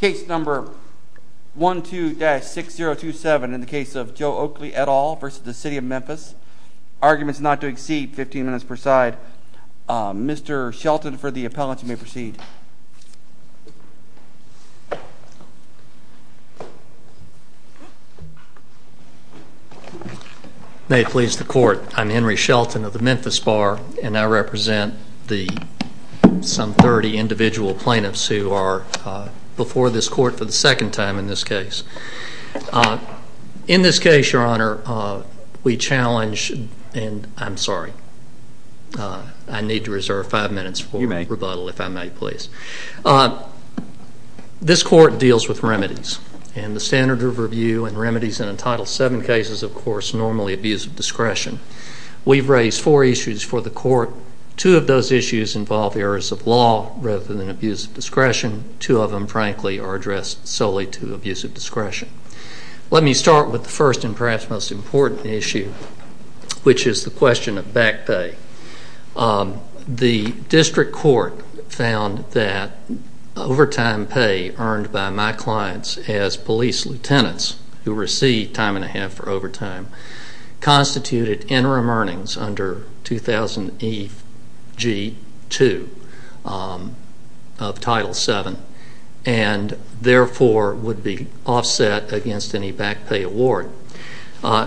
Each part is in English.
Case number 12-6027 in the case of Joe Oakley et al. v. City of Memphis. Arguments not to exceed 15 minutes per side. Mr. Shelton for the appellant, you may proceed. May it please the court, I'm Henry Shelton of the Memphis Bar, and I represent some 30 individual plaintiffs who are before this court for the second time in this case. In this case, your honor, we challenge, and I'm sorry, I need to reserve five minutes for rebuttal if I may please. This court deals with remedies, and the standard of review and remedies in a Title VII case is of course normally abuse of discretion. We've raised four issues for the court. Two of those issues involve errors of law rather than abuse of discretion. Two of them, frankly, are addressed solely to abuse of discretion. Let me start with the first and perhaps most important issue, which is the question of back pay. The district court found that overtime pay earned by my clients as police lieutenants who received time and a half for overtime constituted interim earnings under 2000EG2 of Title VII and therefore would be offset against any back pay award.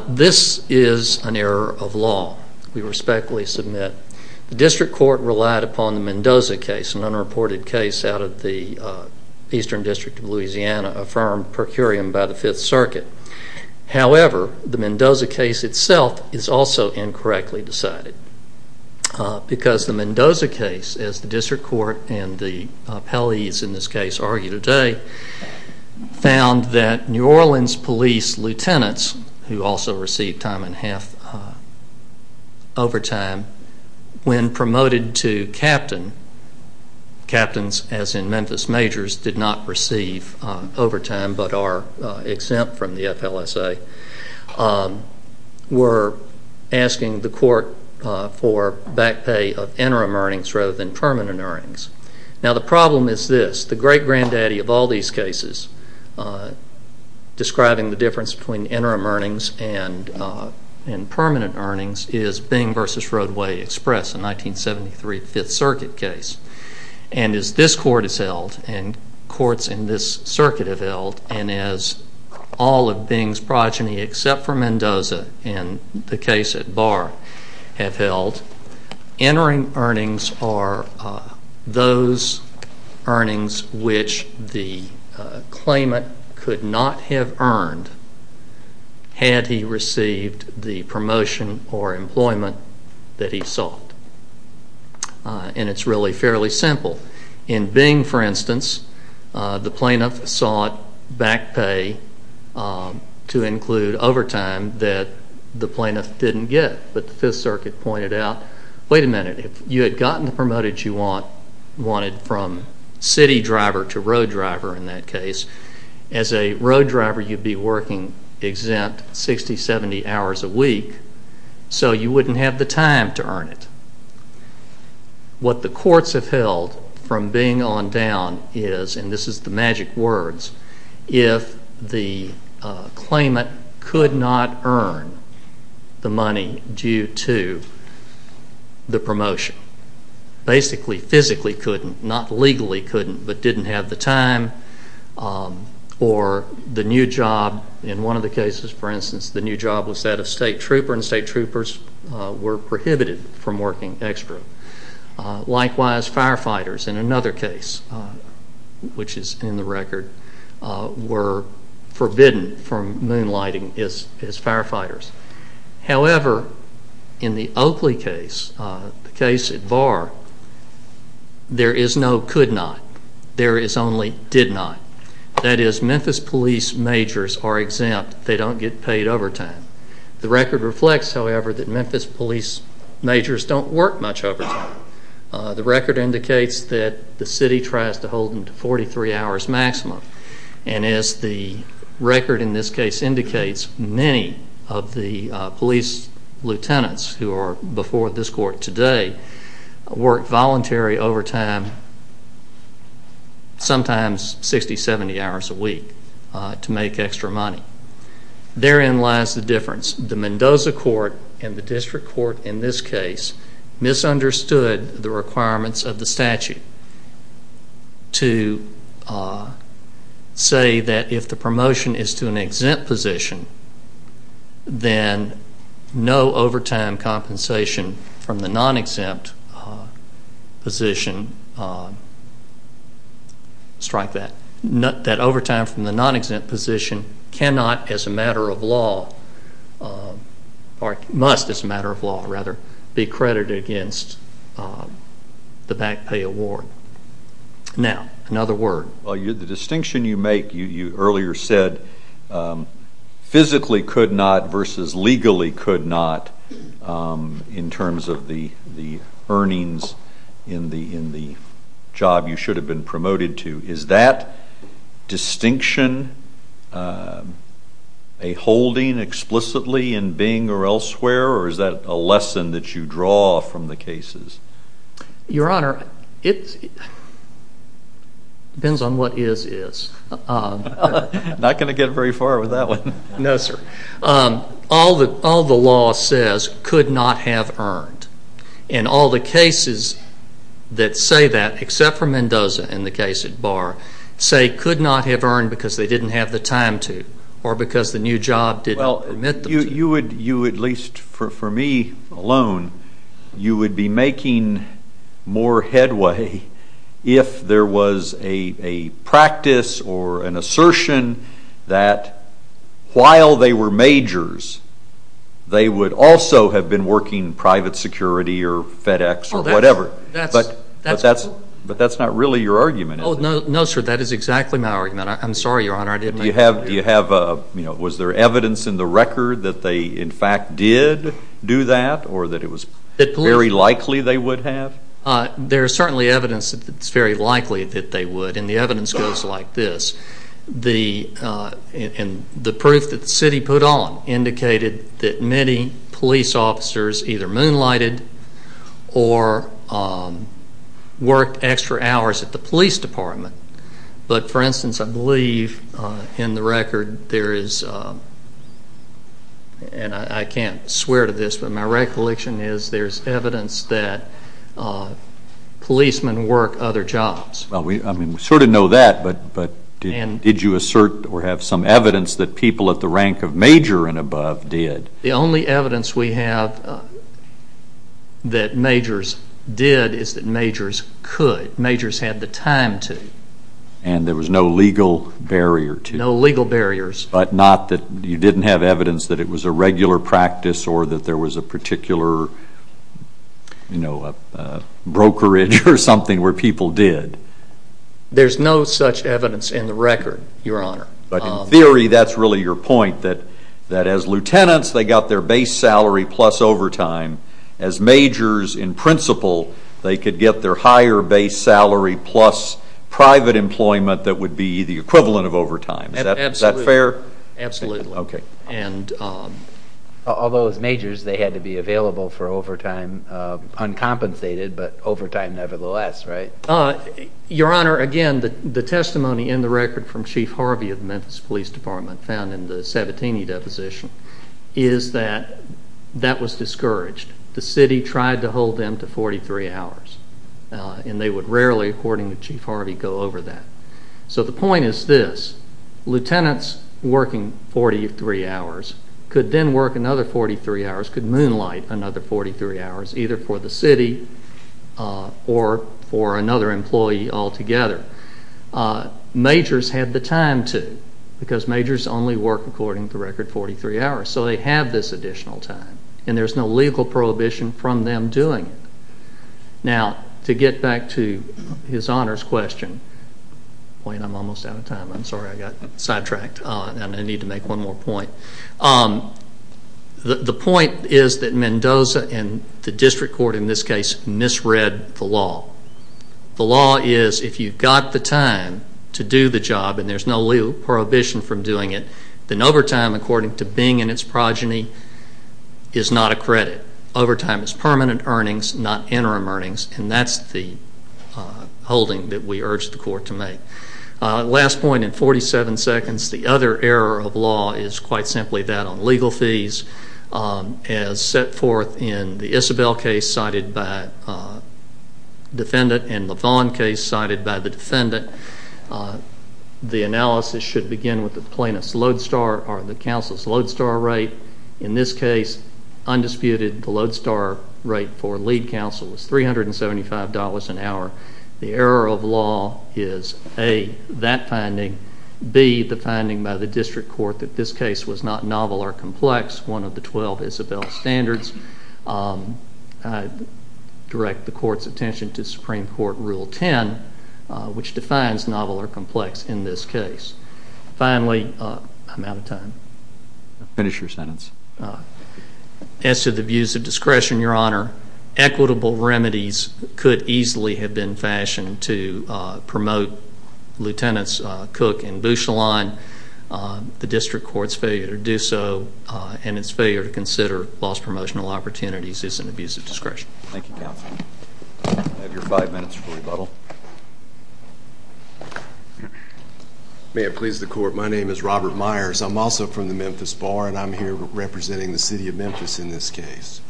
This is an error of law. We respectfully submit the district court relied upon the Mendoza case, an unreported case out of the Eastern District of Louisiana, affirmed per curiam by the Fifth Circuit. However, the Mendoza case itself is also incorrectly decided because the Mendoza case, as the district court and the appellees in this case argue today, found that New Orleans police lieutenants who also received time and a half overtime when promoted to captain, captains as in Memphis majors, did not receive overtime but are exempt from the FLSA, were asking the court for back pay of interim earnings rather than permanent earnings. Now the problem is this. The great granddaddy of all these cases describing the difference between interim earnings and permanent earnings is Bing v. Roadway Express, a 1973 Fifth Circuit case. And as this court has held and courts in this circuit have held, and as all of Bing's progeny except for Mendoza in the case at Barr have held, interim earnings are those earnings which the claimant could not have earned had he received the promotion or employment that he sought. And it's really fairly simple. In Bing, for instance, the plaintiff sought back pay to include overtime that the plaintiff didn't get. But the Fifth Circuit pointed out, wait a minute, if you had gotten the promoted you wanted from city driver to road driver in that case, as a road driver you'd be working exempt 60, 70 hours a week, so you wouldn't have the time to earn it. What the courts have held from Bing on down is, and this is the magic words, if the claimant could not earn the money due to the promotion, basically physically couldn't, not legally couldn't, but didn't have the time, or the new job in one of the cases, for instance, the new job was that of state trooper and state troopers were prohibited from working extra. Likewise, firefighters in another case, which is in the record, were forbidden from moonlighting as firefighters. However, in the Oakley case, the case at VAR, there is no could not. There is only did not. That is Memphis police majors are exempt. They don't get paid overtime. The record reflects, however, that Memphis police majors don't work much overtime. The record indicates that the city tries to hold them to 43 hours maximum. And as the record in this case indicates, many of the police lieutenants who are before this court today work voluntary overtime, sometimes 60, 70 hours a week to make extra money. Therein lies the difference. The Mendoza court and the district court in this case misunderstood the requirements of the statute to say that if the promotion is to an exempt position, then no overtime compensation from the non-exempt position strike that. That overtime from the non-exempt position cannot as a matter of law, or must as a matter of law, rather, be credited against the back pay award. Now, another word. The distinction you make, you earlier said, physically could not versus legally could not in terms of the earnings in the job you should have been promoted to. Is that distinction a holding explicitly in Bing or elsewhere, or is that a lesson that you draw from the cases? Your Honor, it depends on what is is. I'm not going to get very far with that one. No, sir. All the law says could not have earned. And all the cases that say that, except for Mendoza and the case at Barr, say could not have earned because they didn't have the time to or because the new job didn't permit them to. You would, at least for me alone, you would be making more headway if there was a practice or an assertion that while they were majors, they would also have been working private security or FedEx or whatever. But that's not really your argument, is it? No, sir. That is exactly my argument. I'm sorry, Your Honor. Was there evidence in the record that they, in fact, did do that or that it was very likely they would have? There is certainly evidence that it's very likely that they would, and the evidence goes like this. The proof that the city put on indicated that many police officers either moonlighted or worked extra hours at the police department. But, for instance, I believe in the record there is, and I can't swear to this, but my recollection is there's evidence that policemen work other jobs. Well, we sort of know that, but did you assert or have some evidence that people at the rank of major and above did? The only evidence we have that majors did is that majors could. Majors had the time to. And there was no legal barrier to? No legal barriers. But not that you didn't have evidence that it was a regular practice or that there was a particular brokerage or something where people did? There's no such evidence in the record, Your Honor. But in theory that's really your point, that as lieutenants they got their base salary plus overtime. As majors, in principle, they could get their higher base salary plus private employment that would be the equivalent of overtime. Is that fair? Absolutely. Okay. Although as majors they had to be available for overtime uncompensated, but overtime nevertheless, right? Your Honor, again, the testimony in the record from Chief Harvey of the Memphis Police Department found in the Sabatini deposition is that that was discouraged. The city tried to hold them to 43 hours, and they would rarely, according to Chief Harvey, go over that. So the point is this. Lieutenants working 43 hours could then work another 43 hours, could moonlight another 43 hours, either for the city or for another employee altogether. Majors had the time to because majors only work, according to the record, 43 hours. So they have this additional time, and there's no legal prohibition from them doing it. Now, to get back to his Honor's question, I'm almost out of time. I'm sorry. I got sidetracked, and I need to make one more point. The point is that Mendoza and the district court in this case misread the law. The law is if you've got the time to do the job and there's no legal prohibition from doing it, then overtime, according to Bing and its progeny, is not a credit. Overtime is permanent earnings, not interim earnings, and that's the holding that we urge the court to make. Last point in 47 seconds. The other error of law is quite simply that on legal fees. As set forth in the Isabel case cited by the defendant and the Vaughn case cited by the defendant, the analysis should begin with the plaintiff's load star or the counsel's load star rate. In this case, undisputed, the load star rate for lead counsel was $375 an hour. The error of law is A, that finding, B, the finding by the district court that this case was not novel or complex, one of the 12 Isabel standards. I direct the court's attention to Supreme Court Rule 10, which defines novel or complex in this case. Finally, I'm out of time. Finish your sentence. As to the abuse of discretion, Your Honor, equitable remedies could easily have been fashioned to promote Lieutenants Cook and Bouchelin. The district court's failure to do so and its failure to consider loss promotional opportunities is an abuse of discretion. Thank you, counsel. You have your five minutes for rebuttal. May it please the court, my name is Robert Myers. I'm also from the Memphis Bar, and I'm here representing the City of Memphis in this case.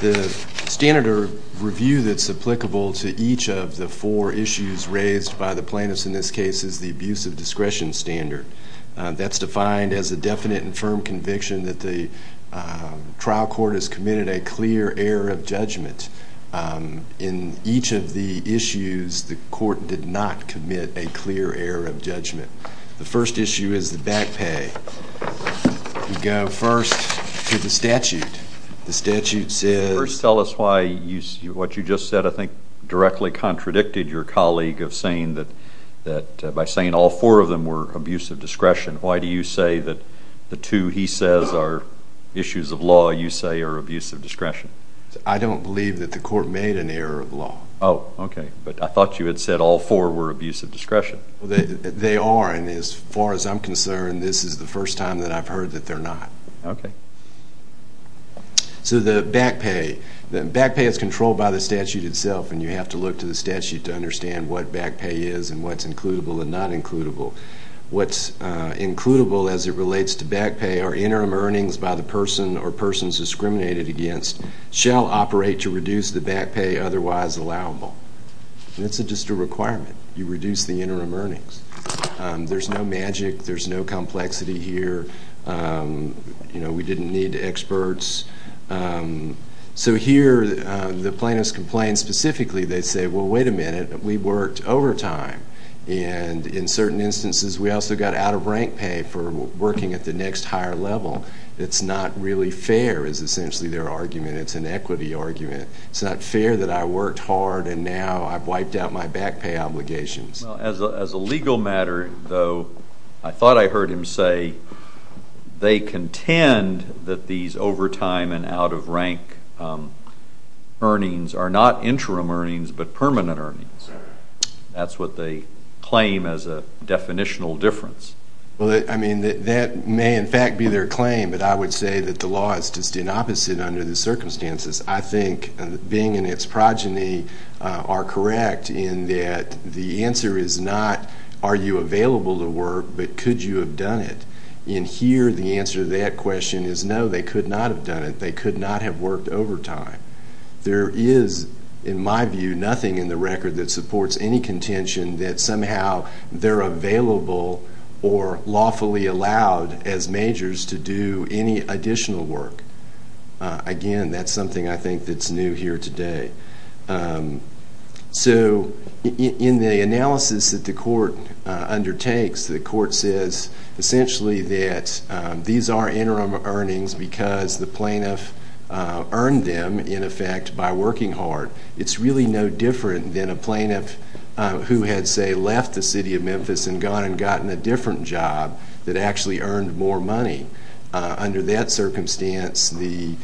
The standard of review that's applicable to each of the four issues raised by the plaintiffs in this case is the abuse of discretion standard. That's defined as a definite and firm conviction that the trial court has committed a clear error of judgment. In each of the issues, the court did not commit a clear error of judgment. The first issue is the back pay. We go first to the statute. The statute says... First, tell us why what you just said I think directly contradicted your colleague of saying that by saying all four of them were abuse of discretion, why do you say that the two he says are issues of law you say are abuse of discretion? I don't believe that the court made an error of law. Oh, okay. But I thought you had said all four were abuse of discretion. They are, and as far as I'm concerned, this is the first time that I've heard that they're not. Okay. So the back pay. Back pay is controlled by the statute itself, and you have to look to the statute to understand what back pay is and what's includable and not includable. What's includable as it relates to back pay are interim earnings by the person or persons discriminated against shall operate to reduce the back pay otherwise allowable. It's just a requirement. You reduce the interim earnings. There's no magic. There's no complexity here. You know, we didn't need experts. So here the plaintiffs complained specifically. They said, well, wait a minute, we worked overtime, and in certain instances we also got out-of-rank pay for working at the next higher level. It's not really fair is essentially their argument. It's an equity argument. It's not fair that I worked hard and now I've wiped out my back pay obligations. As a legal matter, though, I thought I heard him say they contend that these overtime and out-of-rank earnings are not interim earnings but permanent earnings. That's what they claim as a definitional difference. Well, I mean, that may in fact be their claim, but I would say that the law is just the opposite under the circumstances. I think Bing and its progeny are correct in that the answer is not are you available to work but could you have done it. In here the answer to that question is no, they could not have done it. They could not have worked overtime. There is, in my view, nothing in the record that supports any contention that somehow they're available or lawfully allowed as majors to do any additional work. Again, that's something I think that's new here today. So in the analysis that the court undertakes, the court says essentially that these are interim earnings because the plaintiff earned them, in effect, by working hard. It's really no different than a plaintiff who had, say, left the city of Memphis and gone and gotten a different job that actually earned more money. Under that circumstance, the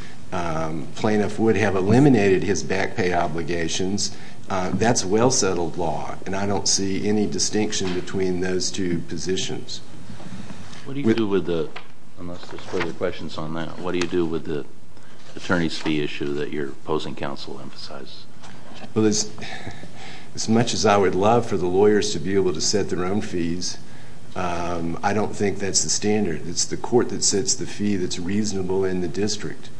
plaintiff would have eliminated his back pay obligations. That's well settled law, and I don't see any distinction between those two positions. What do you do with the, unless there's further questions on that, what do you do with the attorney's fee issue that your opposing counsel emphasized? Well, as much as I would love for the lawyers to be able to set their own fees, I don't think that's the standard. It's the court that sets the fee that's reasonable in the district,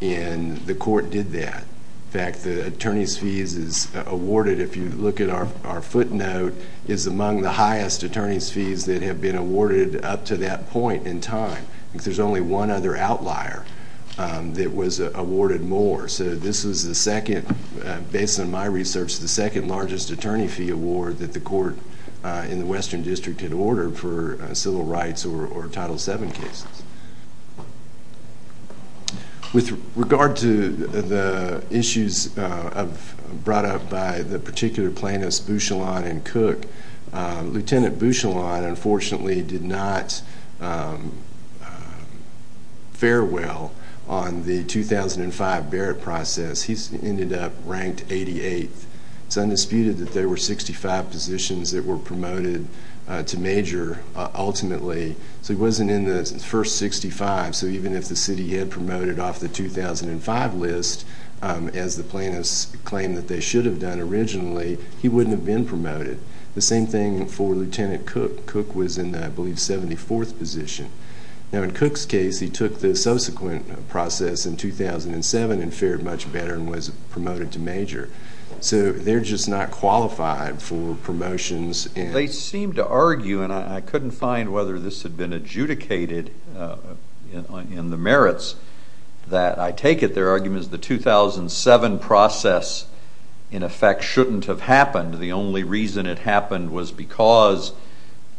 and the court did that. In fact, the attorney's fees is awarded, if you look at our footnote, is among the highest attorney's fees that have been awarded up to that point in time. I think there's only one other outlier that was awarded more. So this was the second, based on my research, the second largest attorney fee award that the court in the Western District had ordered for civil rights or Title VII cases. With regard to the issues brought up by the particular plaintiffs, Bouchillon and Cook, Lieutenant Bouchillon unfortunately did not fare well on the 2005 Barrett process. He ended up ranked 88th. It's undisputed that there were 65 positions that were promoted to major, ultimately. So he wasn't in the first 65, so even if the city had promoted off the 2005 list, as the plaintiffs claimed that they should have done originally, he wouldn't have been promoted. The same thing for Lieutenant Cook. Cook was in, I believe, 74th position. Now, in Cook's case, he took the subsequent process in 2007 and fared much better and was promoted to major. So they're just not qualified for promotions. They seem to argue, and I couldn't find whether this had been adjudicated in the merits that I take it their argument is the 2007 process, in effect, shouldn't have happened. The only reason it happened was because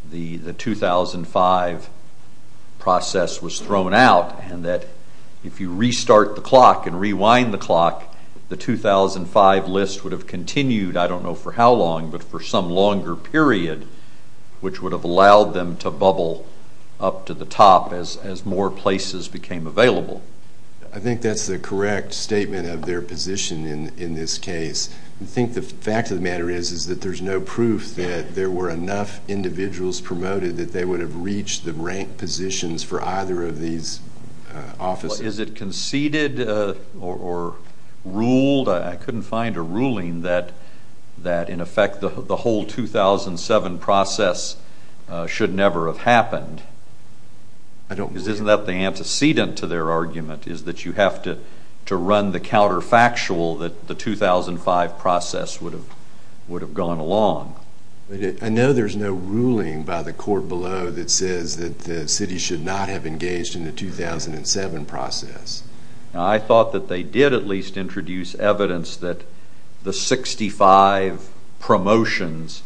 the 2005 process was thrown out and that if you restart the clock and rewind the clock, the 2005 list would have continued, I don't know for how long, but for some longer period, which would have allowed them to bubble up to the top as more places became available. I think that's the correct statement of their position in this case. I think the fact of the matter is that there's no proof that there were enough individuals promoted that they would have reached the rank positions for either of these offices. Is it conceded or ruled? I couldn't find a ruling that, in effect, the whole 2007 process should never have happened. I don't believe it. Isn't that the antecedent to their argument is that you have to run the counterfactual that the 2005 process would have gone along? I know there's no ruling by the court below that says that the city should not have engaged in the 2007 process. I thought that they did at least introduce evidence that the 65 promotions,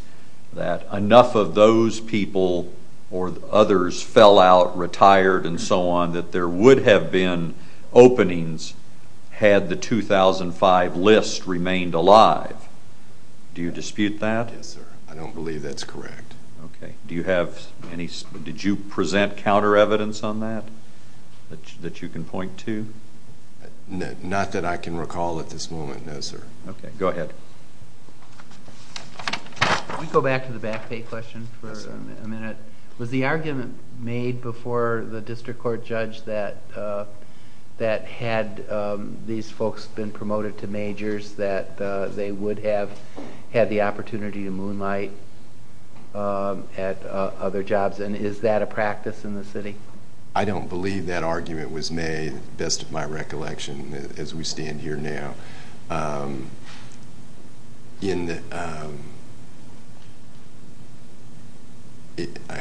that enough of those people or others fell out, retired, and so on, that there would have been openings had the 2005 list remained alive. Do you dispute that? Yes, sir. I don't believe that's correct. Okay. Did you present counter evidence on that that you can point to? Not that I can recall at this moment, no, sir. Okay. Go ahead. Can we go back to the back pay question for a minute? Was the argument made before the district court judge that had these folks been promoted to majors that they would have had the opportunity to moonlight at other jobs, and is that a practice in the city? I don't believe that argument was made, to the best of my recollection as we stand here now.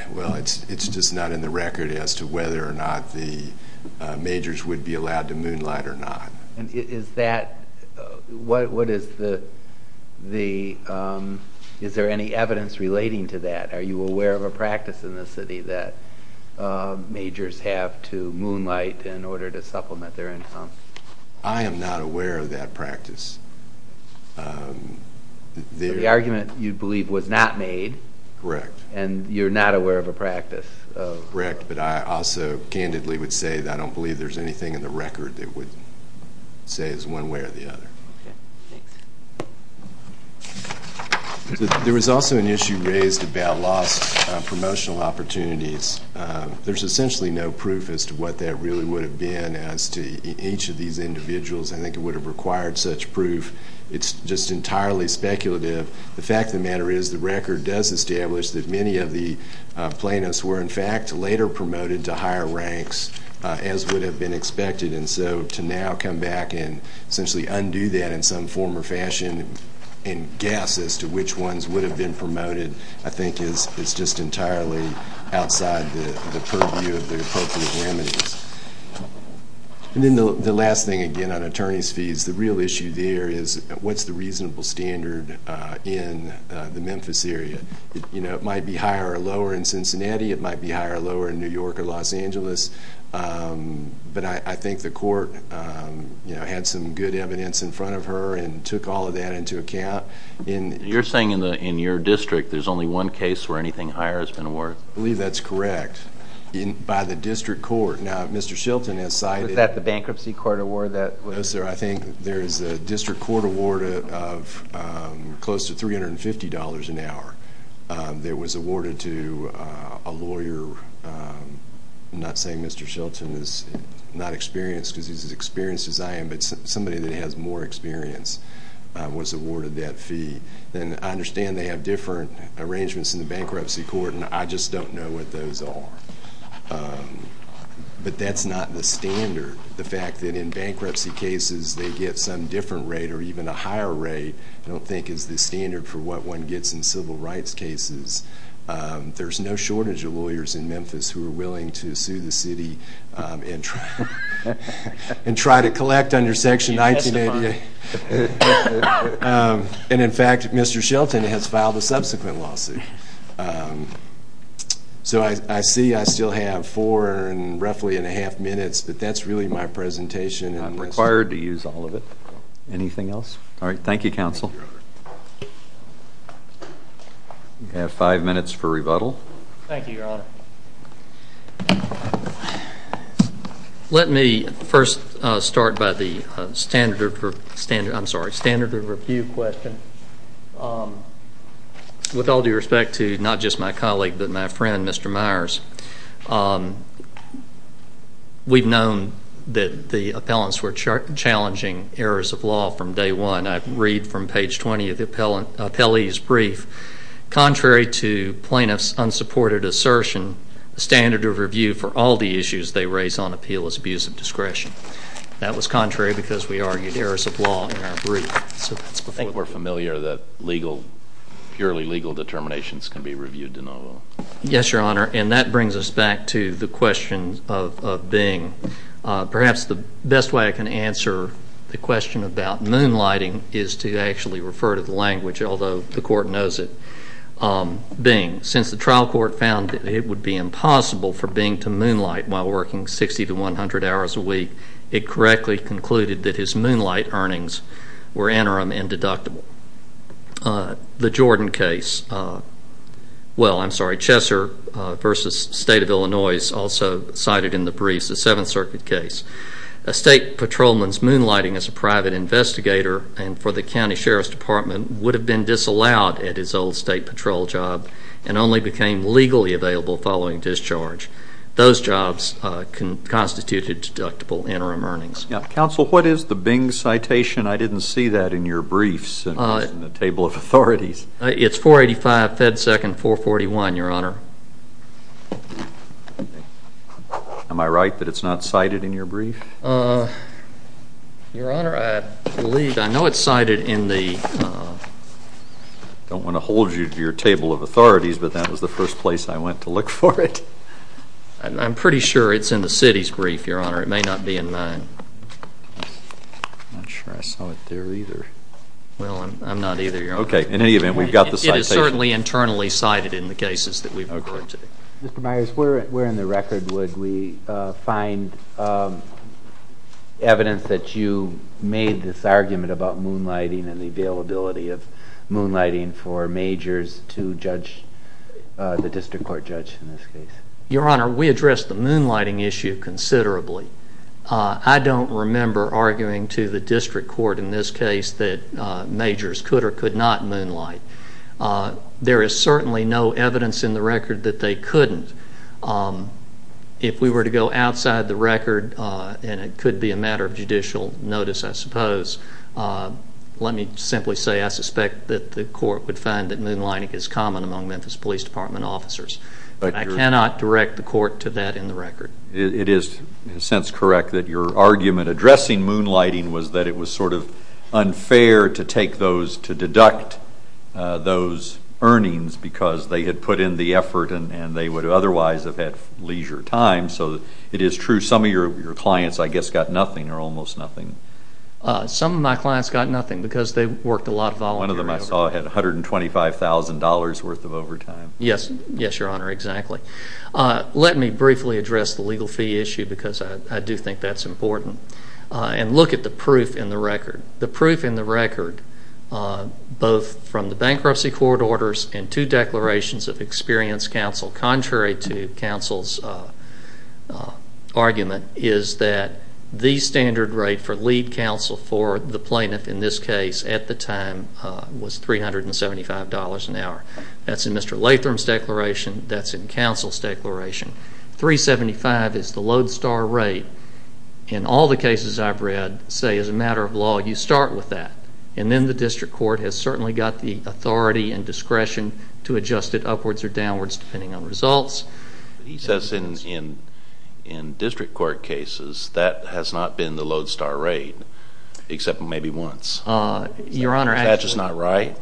Well, it's just not in the record as to whether or not the majors would be allowed to moonlight or not. Is there any evidence relating to that? Are you aware of a practice in the city that majors have to moonlight in order to supplement their income? I am not aware of that practice. The argument, you believe, was not made? Correct. And you're not aware of a practice? Correct, but I also candidly would say that I don't believe there's anything in the record that would say it's one way or the other. Okay. Thanks. There was also an issue raised about lost promotional opportunities. There's essentially no proof as to what that really would have been as to each of these individuals. I think it would have required such proof. It's just entirely speculative. The fact of the matter is the record does establish that many of the plaintiffs were, in fact, later promoted to higher ranks as would have been expected, and so to now come back and essentially undo that in some form or fashion and guess as to which ones would have been promoted I think is just entirely outside the purview of the appropriate remedies. And then the last thing, again, on attorney's fees. The real issue there is what's the reasonable standard in the Memphis area? It might be higher or lower in Cincinnati. It might be higher or lower in New York or Los Angeles. But I think the court had some good evidence in front of her and took all of that into account. You're saying in your district there's only one case where anything higher has been awarded? I believe that's correct. By the district court. Now, Mr. Shelton has cited— Was that the bankruptcy court award that was— No, sir. I think there is a district court award of close to $350 an hour that was awarded to a lawyer. I'm not saying Mr. Shelton is not experienced because he's as experienced as I am, but somebody that has more experience was awarded that fee. then I understand they have different arrangements in the bankruptcy court, and I just don't know what those are. But that's not the standard. The fact that in bankruptcy cases they get some different rate or even a higher rate I don't think is the standard for what one gets in civil rights cases. There's no shortage of lawyers in Memphis who are willing to sue the city and try to collect under Section 1988. And, in fact, Mr. Shelton has filed a subsequent lawsuit. So I see I still have four and roughly a half minutes, but that's really my presentation. I'm required to use all of it. Anything else? All right. Thank you, counsel. You have five minutes for rebuttal. Thank you, Your Honor. Let me first start by the standard of review question. With all due respect to not just my colleague but my friend, Mr. Myers, we've known that the appellants were challenging errors of law from day one. I read from page 20 of the appellee's brief, contrary to plaintiff's unsupported assertion, the standard of review for all the issues they raise on appeal is abuse of discretion. That was contrary because we argued errors of law in our brief. I think we're familiar that purely legal determinations can be reviewed in the law. Yes, Your Honor, and that brings us back to the question of being. Perhaps the best way I can answer the question about moonlighting is to actually refer to the language, although the court knows it, being. Since the trial court found that it would be impossible for Bing to moonlight while working 60 to 100 hours a week, it correctly concluded that his moonlight earnings were interim and deductible. The Jordan case, well, I'm sorry, Chesser v. State of Illinois, is also cited in the briefs, the Seventh Circuit case. A state patrolman's moonlighting as a private investigator and for the county sheriff's department would have been disallowed at his old state patrol job and only became legally available following discharge. Those jobs constituted deductible interim earnings. Counsel, what is the Bing citation? I didn't see that in your briefs in the table of authorities. It's 485 Fed Second 441, Your Honor. Am I right that it's not cited in your brief? Your Honor, I believe, I know it's cited in the... I don't want to hold you to your table of authorities, but that was the first place I went to look for it. I'm pretty sure it's in the city's brief, Your Honor. It may not be in mine. I'm not sure I saw it there either. Well, I'm not either, Your Honor. Okay, in any event, we've got the citation. It is certainly internally cited in the cases that we've referred to. Mr. Myers, where in the record would we find evidence that you made this argument about moonlighting and the availability of moonlighting for majors to judge, the district court judge in this case? Your Honor, we addressed the moonlighting issue considerably. I don't remember arguing to the district court in this case that majors could or could not moonlight. There is certainly no evidence in the record that they couldn't. If we were to go outside the record, and it could be a matter of judicial notice, I suppose, let me simply say I suspect that the court would find that moonlighting is common among Memphis Police Department officers. But I cannot direct the court to that in the record. It is in a sense correct that your argument addressing moonlighting was that it was sort of unfair to take those, to deduct those earnings because they had put in the effort and they would otherwise have had leisure time. So it is true some of your clients, I guess, got nothing or almost nothing. Some of my clients got nothing because they worked a lot of volunteer hours. One of them I saw had $125,000 worth of overtime. Yes, Your Honor, exactly. Let me briefly address the legal fee issue because I do think that's important and look at the proof in the record. The proof in the record, both from the bankruptcy court orders and two declarations of experienced counsel, contrary to counsel's argument, is that the standard rate for lead counsel for the plaintiff in this case at the time was $375 an hour. That's in Mr. Latham's declaration. That's in counsel's declaration. $375 is the lodestar rate. In all the cases I've read say as a matter of law you start with that and then the district court has certainly got the authority and discretion to adjust it upwards or downwards depending on results. He says in district court cases that has not been the lodestar rate except maybe once. Your Honor, actually. That's just not right.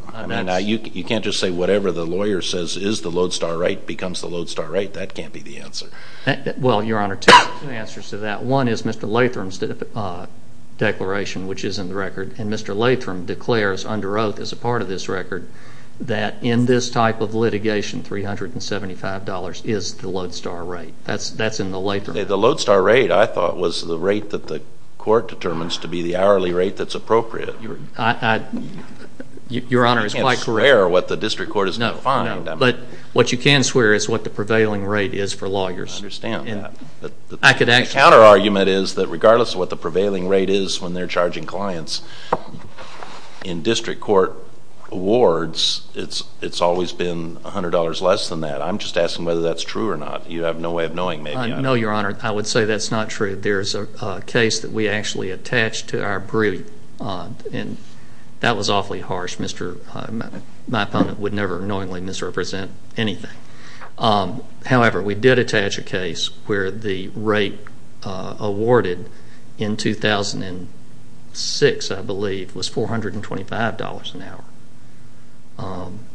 You can't just say whatever the lawyer says is the lodestar rate becomes the lodestar rate. That can't be the answer. Well, Your Honor, two answers to that. One is Mr. Latham's declaration which is in the record and Mr. Latham declares under oath as a part of this record that in this type of litigation $375 is the lodestar rate. That's in the Latham record. The lodestar rate I thought was the rate that the court determines to be the hourly rate that's appropriate. Your Honor, it's quite correct. You can't swear what the district court has defined. What you can swear is what the prevailing rate is for lawyers. I understand that. The counter argument is that regardless of what the prevailing rate is when they're charging clients, in district court awards it's always been $100 less than that. I'm just asking whether that's true or not. You have no way of knowing maybe. No, Your Honor. I would say that's not true. There's a case that we actually attached to our brief and that was awfully harsh. My opponent would never knowingly misrepresent anything. However, we did attach a case where the rate awarded in 2006 I believe was $425 an hour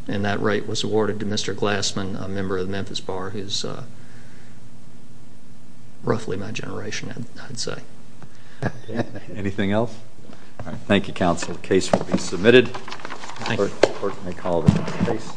and that rate was awarded to Mr. Glassman, a member of the Memphis Bar, who's roughly my generation I'd say. Anything else? Thank you, counsel. The case will be submitted. The court may call the case.